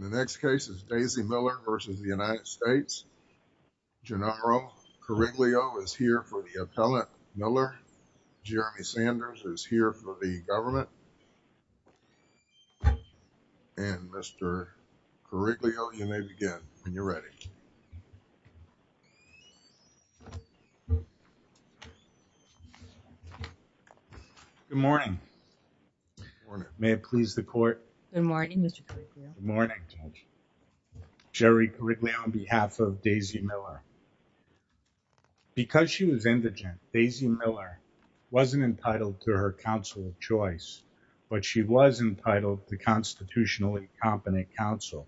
The next case is Daisy Miller v. United States. Gennaro Coriglio is here for the appellant, Miller. Jeremy Sanders is here for the government. And, Mr. Coriglio, you may begin when you're ready. Good morning. Good morning. May it please the court. Good morning, Mr. Coriglio. Good morning, Judge. Jerry Coriglio on behalf of Daisy Miller. Because she was indigent, Daisy Miller wasn't entitled to her counsel of choice, but she was entitled to constitutionally competent counsel.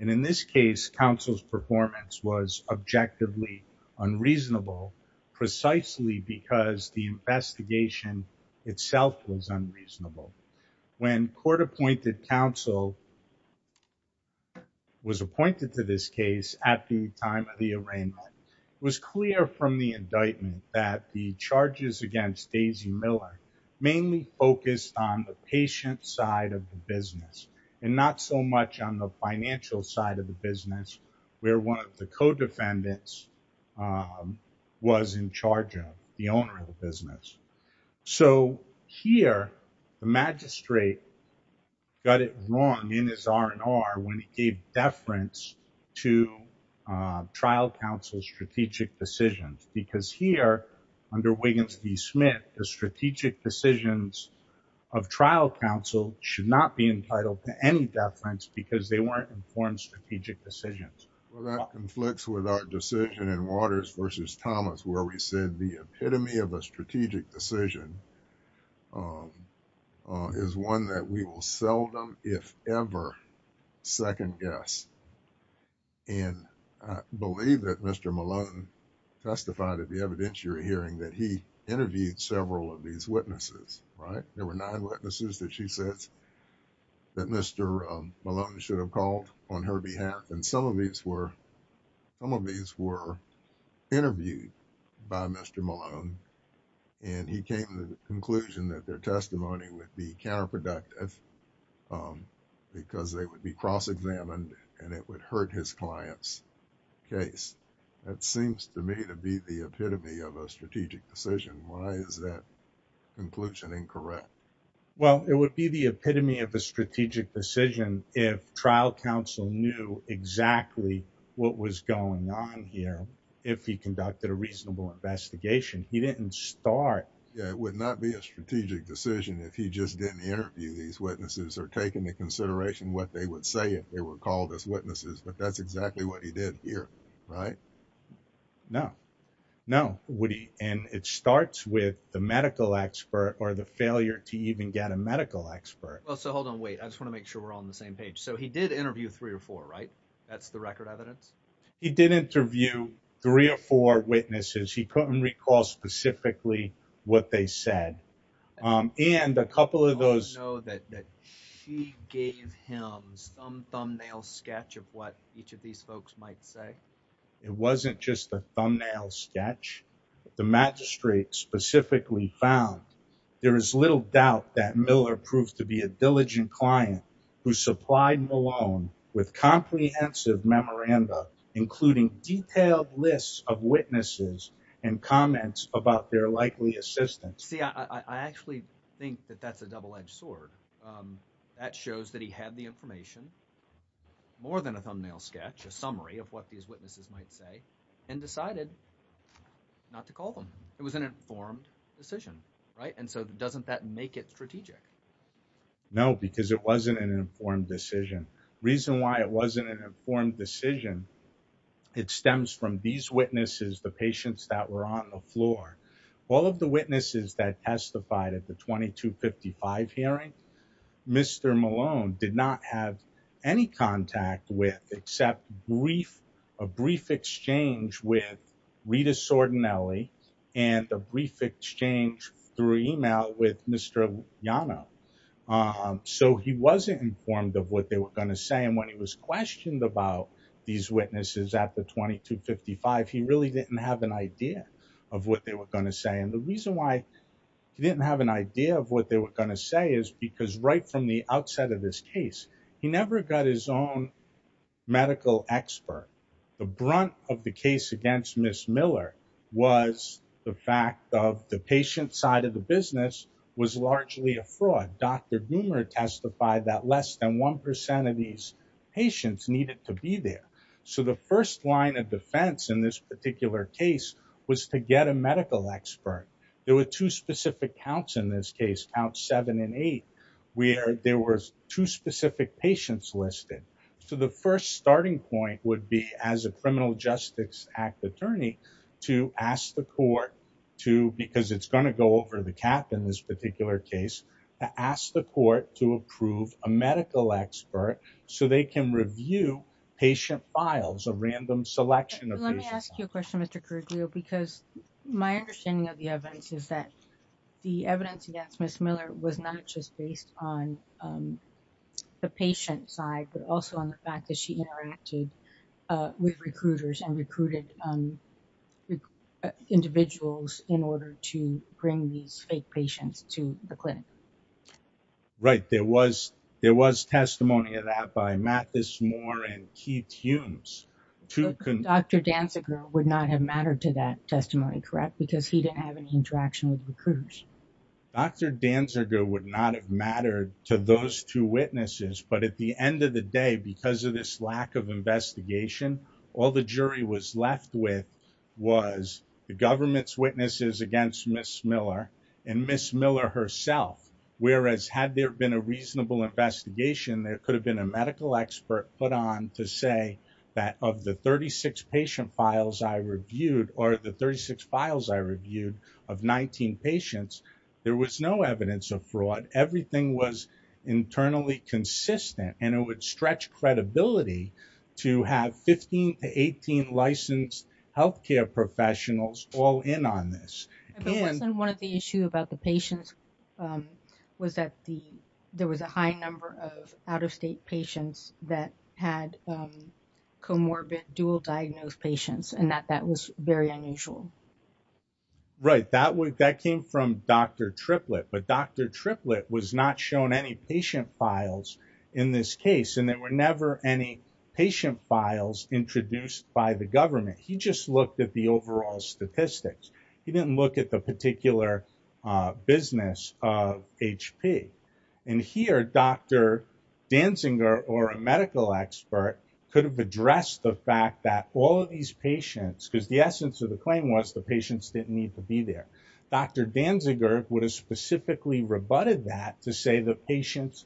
And in this case, counsel's performance was objectively unreasonable, precisely because the investigation itself was unreasonable. When court-appointed counsel was appointed to this case at the time of the arraignment, it was clear from the indictment that the charges against Daisy Miller mainly focused on the patient side of the business, and not so much on the financial side of the business where one of the co-defendants was in charge of, the owner of the business. So here, the magistrate got it wrong in his R&R when he gave deference to trial counsel's strategic decisions. Because here, under Wiggins v. Smith, the strategic decisions of trial counsel should not be entitled to any deference because they weren't informed strategic decisions. Well, that conflicts with our decision in Waters v. Thomas where we said the epitome of a strategic decision is one that we will seldom, if ever, second-guess. And I believe that Mr. Malone testified at the evidentiary hearing that he interviewed several of these witnesses, right? There were nine witnesses that she said that Mr. Malone should have called on her behalf, and some of these were interviewed by Mr. Malone, and he came to the conclusion that their testimony would be counterproductive because they would be cross-examined and it would hurt his client's case. That seems to me to be the epitome of a strategic decision. Why is that conclusion incorrect? Well, it would be the epitome of a strategic decision if trial counsel knew exactly what was going on here, if he conducted a reasonable investigation. He didn't start... Yeah, it would not be a strategic decision if he just didn't interview these witnesses or take into consideration what they would say if they were called as witnesses, but that's exactly what he did here, right? No. No, Woody, and it starts with the medical expert or the failure to even get a medical expert. Well, so hold on, wait. I just want to make sure we're all on the same page. So he did interview three or four, right? That's the record evidence? He did interview three or four witnesses. He couldn't recall specifically what they said. And a couple of those... Do you know that she gave him some thumbnail sketch of what each of these folks might say? It wasn't just a thumbnail sketch. The magistrate specifically found, there is little doubt that Miller proved to be a diligent client who supplied Malone with comprehensive memoranda, including detailed lists of witnesses and comments about their likely assistance. See, I actually think that that's a double-edged sword. That shows that he had the information, more than a thumbnail sketch, a summary of what each of these witnesses might say, and decided not to call them. It was an informed decision, right? And so doesn't that make it strategic? No, because it wasn't an informed decision. Reason why it wasn't an informed decision, it stems from these witnesses, the patients that were on the floor. All of the witnesses that testified at the 2255 hearing, Mr. Malone did not have any contact with, except a brief exchange with Rita Sordinelli, and a brief exchange through email with Mr. Liano. So he wasn't informed of what they were going to say, and when he was questioned about these witnesses at the 2255, he really didn't have an idea of what they were going to say. And the reason why he didn't have an idea of what they were going to say is because right from the outset of this case, he never got his own medical expert. The brunt of the case against Ms. Miller was the fact of the patient side of the business was largely a fraud. Dr. Gumer testified that less than 1% of these patients needed to be there. So the first line of defense in this particular case was to get a medical expert. There were two specific counts in this case, count seven and eight, where there were two specific patients listed. So the first starting point would be as a Criminal Justice Act attorney to ask the court to, because it's going to go over the cap in this particular case, to ask the court to approve a medical expert so they can review patient files, a random selection of patient files. I have a question, Mr. Corriglio, because my understanding of the evidence is that the evidence against Ms. Miller was not just based on the patient side, but also on the fact that she interacted with recruiters and recruited individuals in order to bring these fake patients to the clinic. Right. There was, there was testimony of that by Mathis Moore and Keith Humes. Dr. Danziger would not have mattered to that testimony, correct? Because he didn't have any interaction with recruiters. Dr. Danziger would not have mattered to those two witnesses, but at the end of the day, because of this lack of investigation, all the jury was left with was the government's witnesses against Ms. Miller and Ms. Miller herself. Whereas had there been a reasonable investigation, there could have been a medical expert put on to say that of the 36 patient files I reviewed, or the 36 files I reviewed of 19 patients, there was no evidence of fraud. Everything was internally consistent and it would stretch credibility to have 15 to 18 licensed healthcare professionals all in on this. But wasn't one of the issue about the patients was that the, there was a high number of out had comorbid dual diagnosed patients and that that was very unusual. Right. That was, that came from Dr. Triplett, but Dr. Triplett was not shown any patient files in this case. And there were never any patient files introduced by the government. He just looked at the overall statistics. He didn't look at the particular business of HP. And here, Dr. Danziger or a medical expert could have addressed the fact that all of these patients, because the essence of the claim was the patients didn't need to be there. Dr. Danziger would have specifically rebutted that to say the patients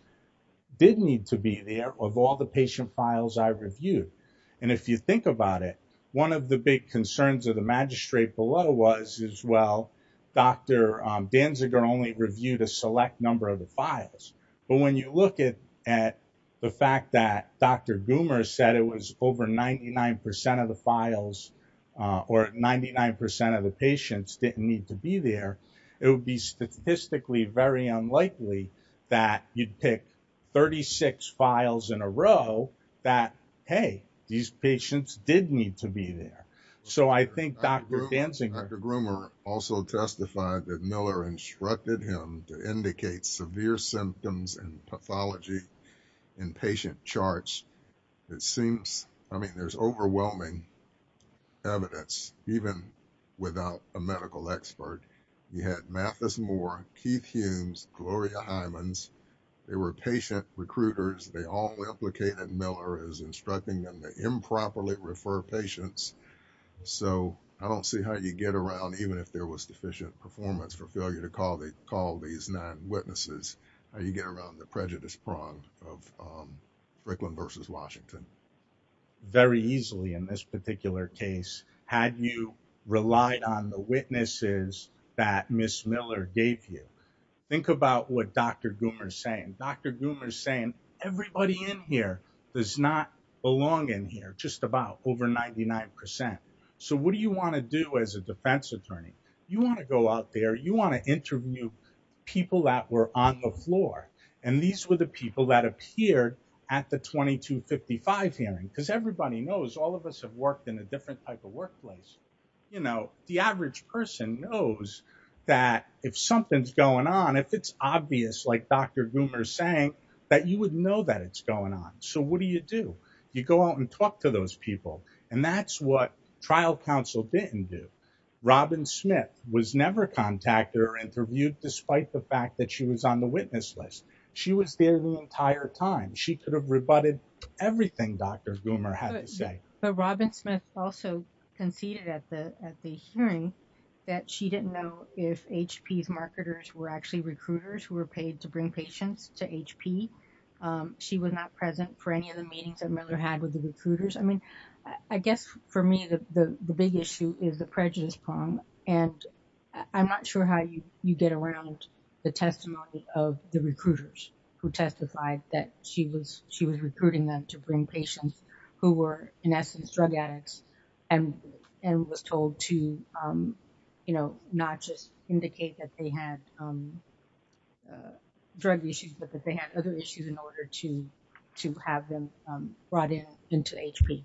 didn't need to be there of all the patient files I reviewed. And if you think about it, one of the big concerns of the magistrate below was as well, Dr. Danziger only reviewed a select number of the files. But when you look at, at the fact that Dr. Groomer said it was over 99% of the files or 99% of the patients didn't need to be there, it would be statistically very unlikely that you'd pick 36 files in a row that, Hey, these patients did need to be there. So I think Dr. Danziger- Dr. Groomer also testified that Miller instructed him to indicate severe symptoms and pathology in patient charts. It seems, I mean, there's overwhelming evidence, even without a medical expert. You had Mathis Moore, Keith Humes, Gloria Hymans, they were patient recruiters. They all implicated Miller as instructing them to improperly refer patients. So I don't see how you get around, even if there was deficient performance for failure to call these nine witnesses, how you get around the prejudice prong of Fricklin versus Washington. Very easily in this particular case, had you relied on the witnesses that Ms. Miller gave you. Think about what Dr. Groomer is saying. Dr. Groomer is saying everybody in here does not belong in here, just about over 99%. So what do you want to do as a defense attorney? You want to go out there, you want to interview people that were on the floor. And these were the people that appeared at the 2255 hearing, because everybody knows all of us have worked in a different type of workplace. You know, the average person knows that if something's going on, if it's obvious, like Dr. Groomer is saying, that you would know that it's going on. So what do you do? You go out and talk to those people. And that's what trial counsel didn't do. Robin Smith was never contacted or interviewed, despite the fact that she was on the witness list. She was there the entire time. She could have rebutted everything Dr. Groomer had to say. But Robin Smith also conceded at the hearing that she didn't know if HP's marketers were actually recruiters who were paid to bring patients to HP. She was not present for any of the meetings that Miller had with the recruiters. I mean, I guess for me, the big issue is the prejudice prong, and I'm not sure how you get around the testimony of the recruiters who testified that she was recruiting them to bring patients who were, in essence, drug addicts, and was told to, you know, not just indicate that they had drug issues, but that they had other issues in order to have them brought in into HP.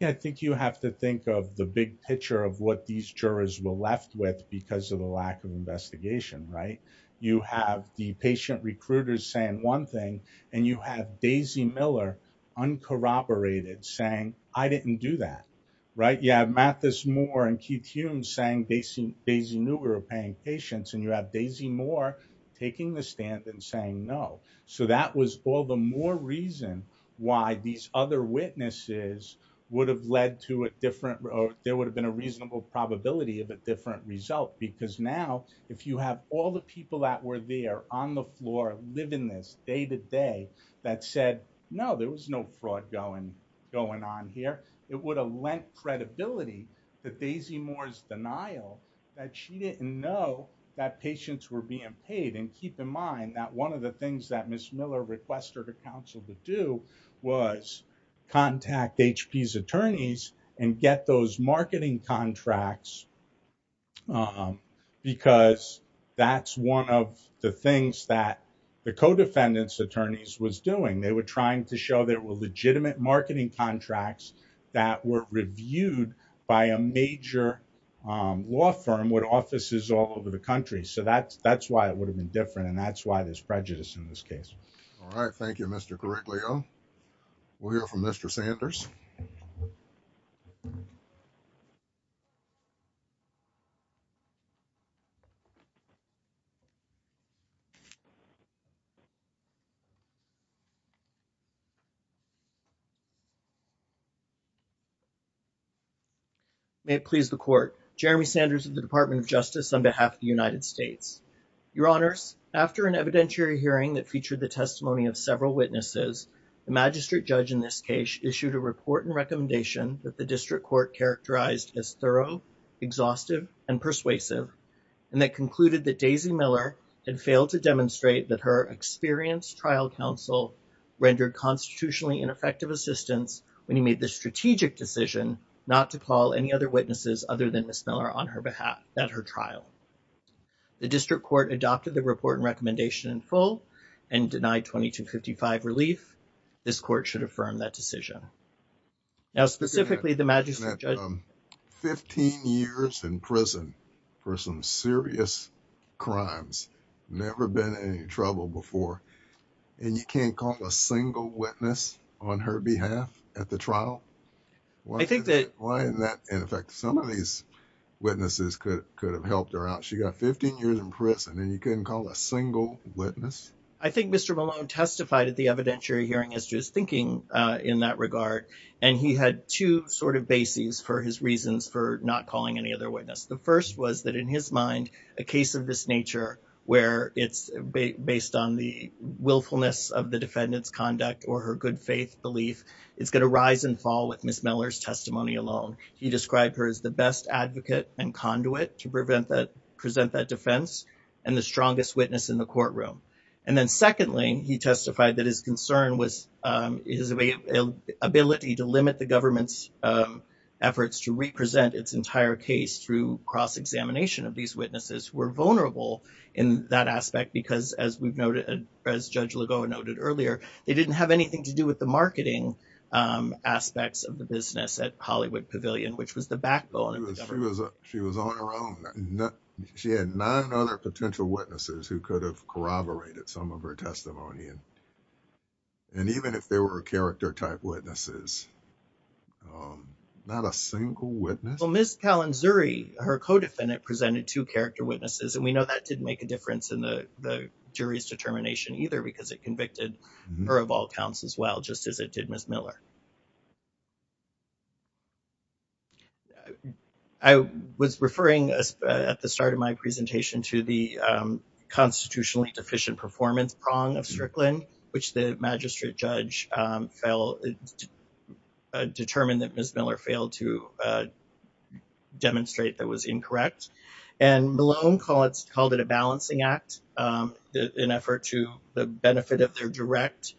Yeah, I think you have to think of the big picture of what these jurors were left with because of the lack of investigation, right? You have the patient recruiters saying one thing, and you have Daisy Miller uncorroborated saying, I didn't do that, right? You have Mathis Moore and Keith Humes saying Daisy knew we were paying patients, and you have Daisy Moore taking the stand and saying no. So that was all the more reason why these other witnesses would have led to a different, there would have been a reasonable probability of a different result because now if you have all the people that were there on the floor living this day to day that said, no, there was no fraud going on here, it would have lent credibility to Daisy Moore's denial that she didn't know that patients were being paid, and keep in mind that one of the things that Ms. Miller requested her counsel to do was contact HP's attorneys and get those marketing contracts because that's one of the things that the co-defendants' attorneys was doing. They were trying to show there were legitimate marketing contracts that were reviewed by a major law firm with offices all over the country. So that's why it would have been different, and that's why there's prejudice in this case. All right. Thank you, Mr. Gariglio. We'll hear from Mr. Sanders. May it please the Court. Jeremy Sanders of the Department of Justice on behalf of the United States. Your Honors, after an evidentiary hearing that featured the testimony of several witnesses, the magistrate judge in this case issued a report and recommendation that the district court characterized as thorough, exhaustive, and persuasive, and that concluded that Daisy Miller had failed to demonstrate that her experienced trial counsel rendered constitutionally ineffective assistance when he made the strategic decision not to call any other witnesses other than Ms. Miller on her behalf at her trial. The district court adopted the report and recommendation in full and denied 2255 relief. This court should affirm that decision. Now specifically, the magistrate judge- Fifteen years in prison for some serious crimes. Never been in any trouble before, and you can't call a single witness on her behalf at the trial? I think that- She got 15 years in prison, and you couldn't call a single witness? I think Mr. Malone testified at the evidentiary hearing as to his thinking in that regard, and he had two sort of bases for his reasons for not calling any other witness. The first was that in his mind, a case of this nature, where it's based on the willfulness of the defendant's conduct or her good faith belief, it's going to rise and fall with Ms. Miller's testimony alone. He described her as the best advocate and conduit to present that defense and the strongest witness in the courtroom. And then secondly, he testified that his concern was his ability to limit the government's efforts to represent its entire case through cross-examination of these witnesses who were vulnerable in that aspect because, as Judge Lagoa noted earlier, they didn't have anything to do with the marketing aspects of the business at Hollywood Pavilion, which was the backbone of the government. She was on her own. She had nine other potential witnesses who could have corroborated some of her testimony, and even if they were character-type witnesses, not a single witness? Well, Ms. Kalinzuri, her co-defendant, presented two character witnesses, and we know that didn't make a difference in the jury's determination either because it convicted her of all counts as well, just as it did Ms. Miller. I was referring at the start of my presentation to the constitutionally deficient performance prong of Strickland, which the magistrate judge determined that Ms. Miller failed to demonstrate that was incorrect. Malone called it a balancing act in effort to the benefit of their direct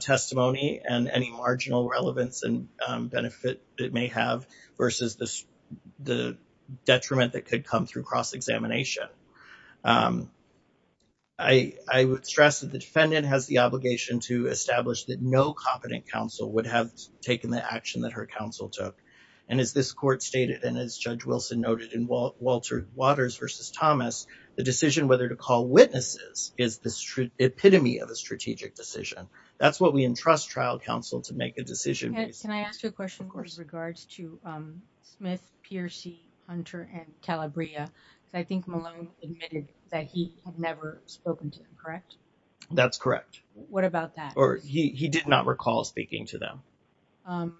testimony and any marginal relevance and benefit it may have versus the detriment that could come through cross-examination. I would stress that the defendant has the obligation to establish that no competent counsel would have taken the action that her counsel took, and as this court stated and as Judge Wilson noted in Walter Waters v. Thomas, the decision whether to call witnesses is the epitome of a strategic decision. That's what we entrust trial counsel to make a decision based on. Can I ask you a question with regards to Smith, Piercy, Hunter, and Calabria? I think Malone admitted that he had never spoken to them, correct? That's correct. What about that? Or he did not recall speaking to them.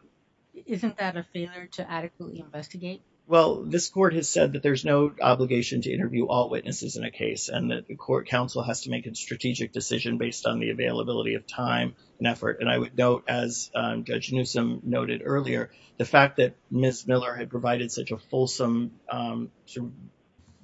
Isn't that a failure to adequately investigate? Well, this court has said that there's no obligation to interview all witnesses in a case and that the court counsel has to make a strategic decision based on the availability of time and effort, and I would note, as Judge Newsom noted earlier, the fact that Ms. Miller had provided such a fulsome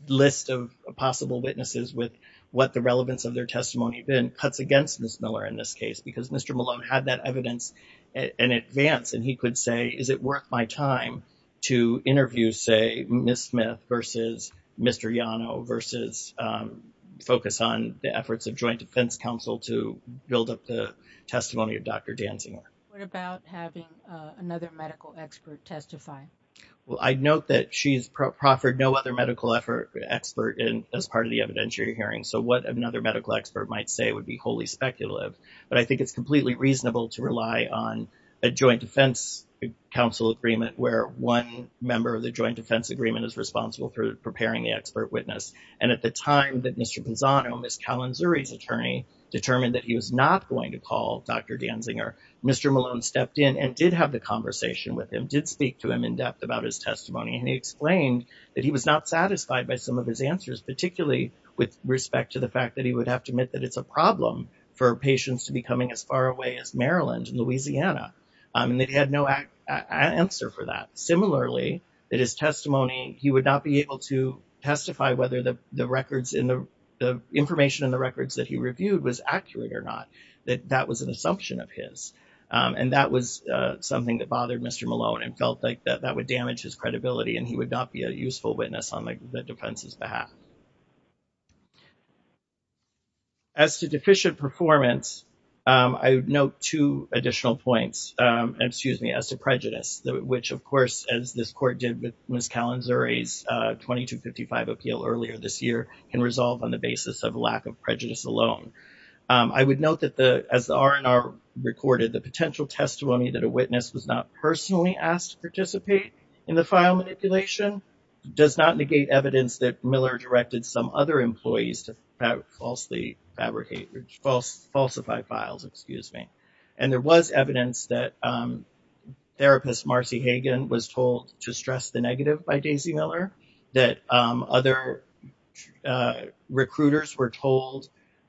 list of possible witnesses with what the relevance of their testimony had been cuts against Ms. Miller in this case because Mr. Malone had that evidence in advance and he could say, is it worth my time to interview, say, Ms. Smith versus Mr. Yano versus focus on the efforts of joint defense counsel to build up the testimony of Dr. Danziger? What about having another medical expert testify? Well, I note that she has proffered no other medical expert as part of the evidentiary hearing, so what another medical expert might say would be wholly speculative, but I think it's completely reasonable to rely on a joint defense counsel agreement where one member of the joint defense agreement is responsible for preparing the expert witness, and at the time that Mr. Pinzano, Ms. Kalinzuri's attorney, determined that he was not going to call Dr. Danziger, Mr. Malone stepped in and did have the conversation with him, did speak to him in depth about his testimony, and he explained that he was not satisfied by some of his answers, particularly with respect to the fact that he would have to admit that it's a problem for patients to be coming as far away as Maryland and Louisiana, and that he had no answer for that. Similarly, that his testimony, he would not be able to testify whether the records, the information in the records that he reviewed was accurate or not, that that was an assumption of his, and that was something that bothered Mr. Malone and felt like that would damage his credibility and he would not be a useful witness on the defense's behalf. As to deficient performance, I would note two additional points, excuse me, as to prejudice, which of course, as this court did with Ms. Kalinzuri's 2255 appeal earlier this year, can resolve on the basis of lack of prejudice alone. I would note that the, as the R&R recorded, the potential testimony that a witness was not personally asked to participate in the file manipulation does not negate evidence that Miller directed some other employees to falsely fabricate, falsify files, excuse me. And there was evidence that therapist Marcy Hagan was told to stress the negative by Daisy Miller, that other recruiters were told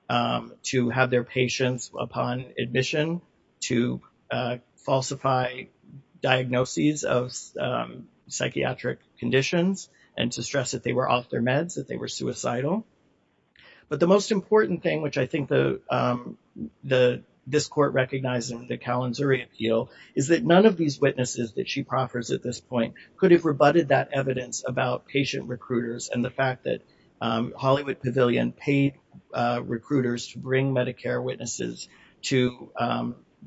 to have their patients upon admission to falsify diagnoses of psychiatric conditions and to stress that they were off their meds, that they were suicidal. But the most important thing, which I think this court recognized in the Kalinzuri appeal is that none of these witnesses that she proffers at this point could have rebutted that evidence about patient recruiters and the fact that Hollywood Pavilion paid recruiters to bring Medicare witnesses to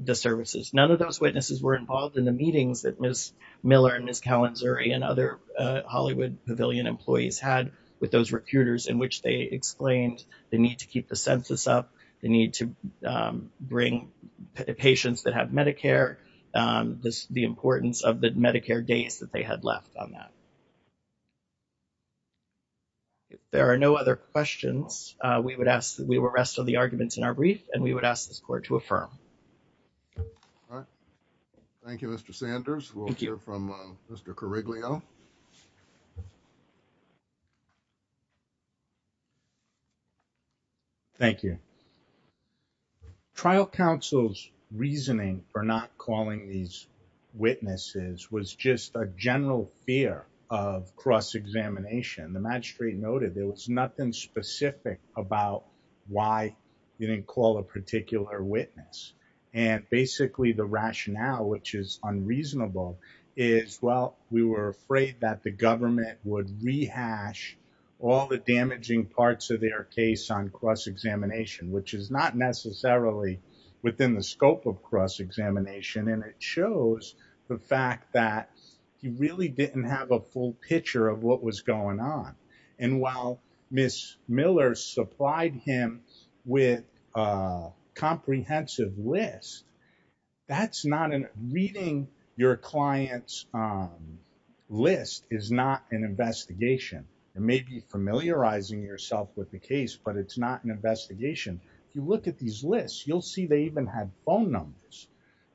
the services. None of those witnesses were involved in the meetings that Ms. Miller and Ms. Kalinzuri and other Hollywood Pavilion employees had with those recruiters in which they explained the need to keep the census up, the need to bring patients that have Medicare, the importance of the Medicare days that they had left on that. There are no other questions. We would ask that we will rest on the arguments in our brief and we would ask this court to affirm. All right. Thank you, Mr. Sanders. We'll hear from Mr. Carriglio. Thank you. Trial counsel's reasoning for not calling these witnesses was just a general fear of cross-examination. The magistrate noted there was nothing specific about why you didn't call a particular witness and basically the rationale, which is unreasonable, is, well, we were afraid that the government would rehash all the damaging parts of their case on cross-examination, which is not necessarily within the scope of cross-examination and it shows the fact that he really didn't have a full picture of what was going on. And while Ms. Miller supplied him with a comprehensive list, reading your client's list is not an investigation. It may be familiarizing yourself with the case, but it's not an investigation. If you look at these lists, you'll see they even had phone numbers.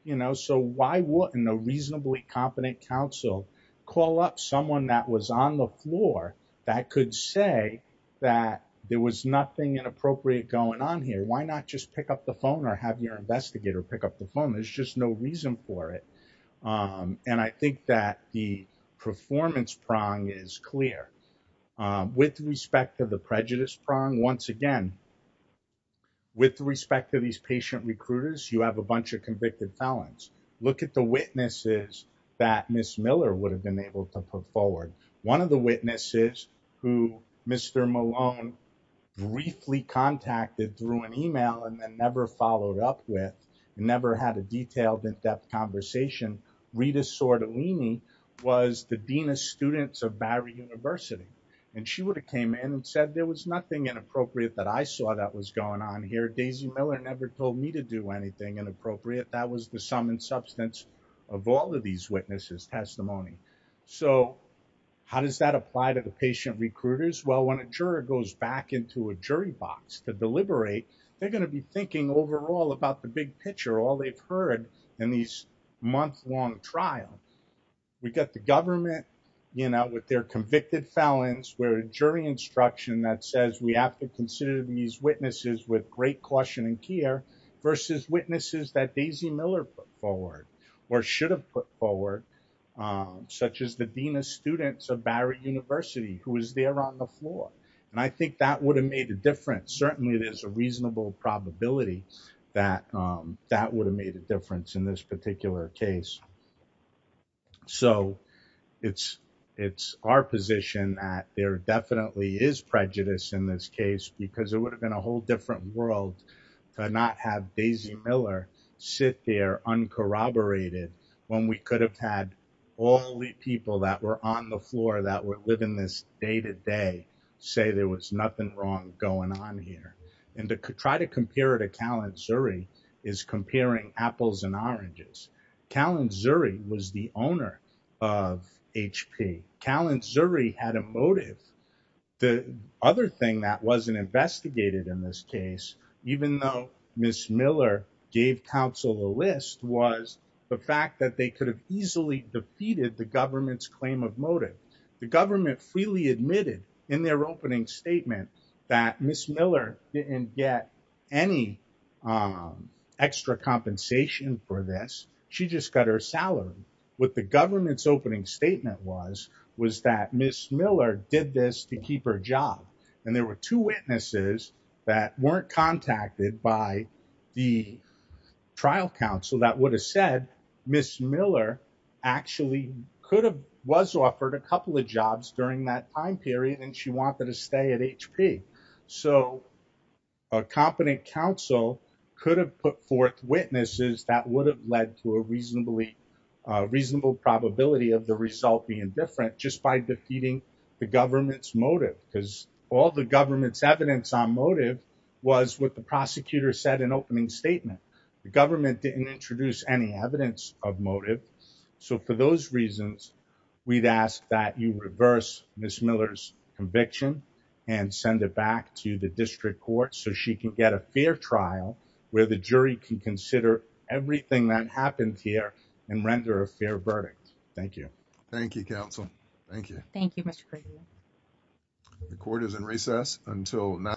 You know, so why wouldn't a reasonably competent counsel call up someone that was on the floor that could say that there was nothing inappropriate going on here? Why not just pick up the phone or have your investigator pick up the phone? There's just no reason for it. And I think that the performance prong is clear. With respect to the prejudice prong, once again, with respect to these patient recruiters, you have a bunch of convicted felons. Look at the witnesses that Ms. Miller would have been able to put forward. One of the witnesses who Mr. Malone briefly contacted through an email and then never followed up with, never had a detailed in-depth conversation, Rita Sordellini, was the Dean of Students of Barry University. And she would have came in and said, there was nothing inappropriate that I saw that was going on here. Daisy Miller never told me to do anything inappropriate. That was the sum and substance of all of these witnesses' testimony. So how does that apply to the patient recruiters? Well, when a juror goes back into a jury box to deliberate, they're going to be thinking overall about the big picture, all they've heard in these month-long trials. We got the government, you know, with their convicted felons, where a jury instruction that says we have to consider these witnesses with great caution and care versus witnesses that Daisy Miller put forward or should have put forward, such as the Dean of Students of Barry University, who was there on the floor. And I think that would have made a difference. Certainly there's a reasonable probability that that would have made a difference in this particular case. So it's our position that there definitely is prejudice in this case, because it would have been a whole different world to not have Daisy Miller sit there uncorroborated when we could have had all the people that were on the floor that were living this day-to-day say there was nothing wrong going on here. And to try to compare it to Kalantzuri is comparing apples and oranges. Kalantzuri was the owner of HP. Kalantzuri had a motive. The other thing that wasn't investigated in this case, even though Ms. Miller gave counsel the list, was the fact that they could have easily defeated the government's claim of motive. The government freely admitted in their opening statement that Ms. Miller didn't get any extra compensation for this. She just got her salary. What the government's opening statement was, was that Ms. Miller did this to keep her job. And there were two witnesses that weren't contacted by the trial counsel that would have said Ms. Miller actually could have, was offered a couple of jobs during that time period and she wanted to stay at HP. So a competent counsel could have put forth witnesses that would have led to a reasonable probability of the result being different just by defeating the government's motive. Because all the government's evidence on motive was what the prosecutor said in opening statement. The government didn't introduce any evidence of motive. So for those reasons, we'd ask that you reverse Ms. Miller's conviction and send it back to the district court so she can get a fair trial where the jury can consider everything that happened here and render a fair verdict. Thank you. Thank you, counsel. Thank you. Thank you, Mr. Craven. The court is in recess until 9 p.m.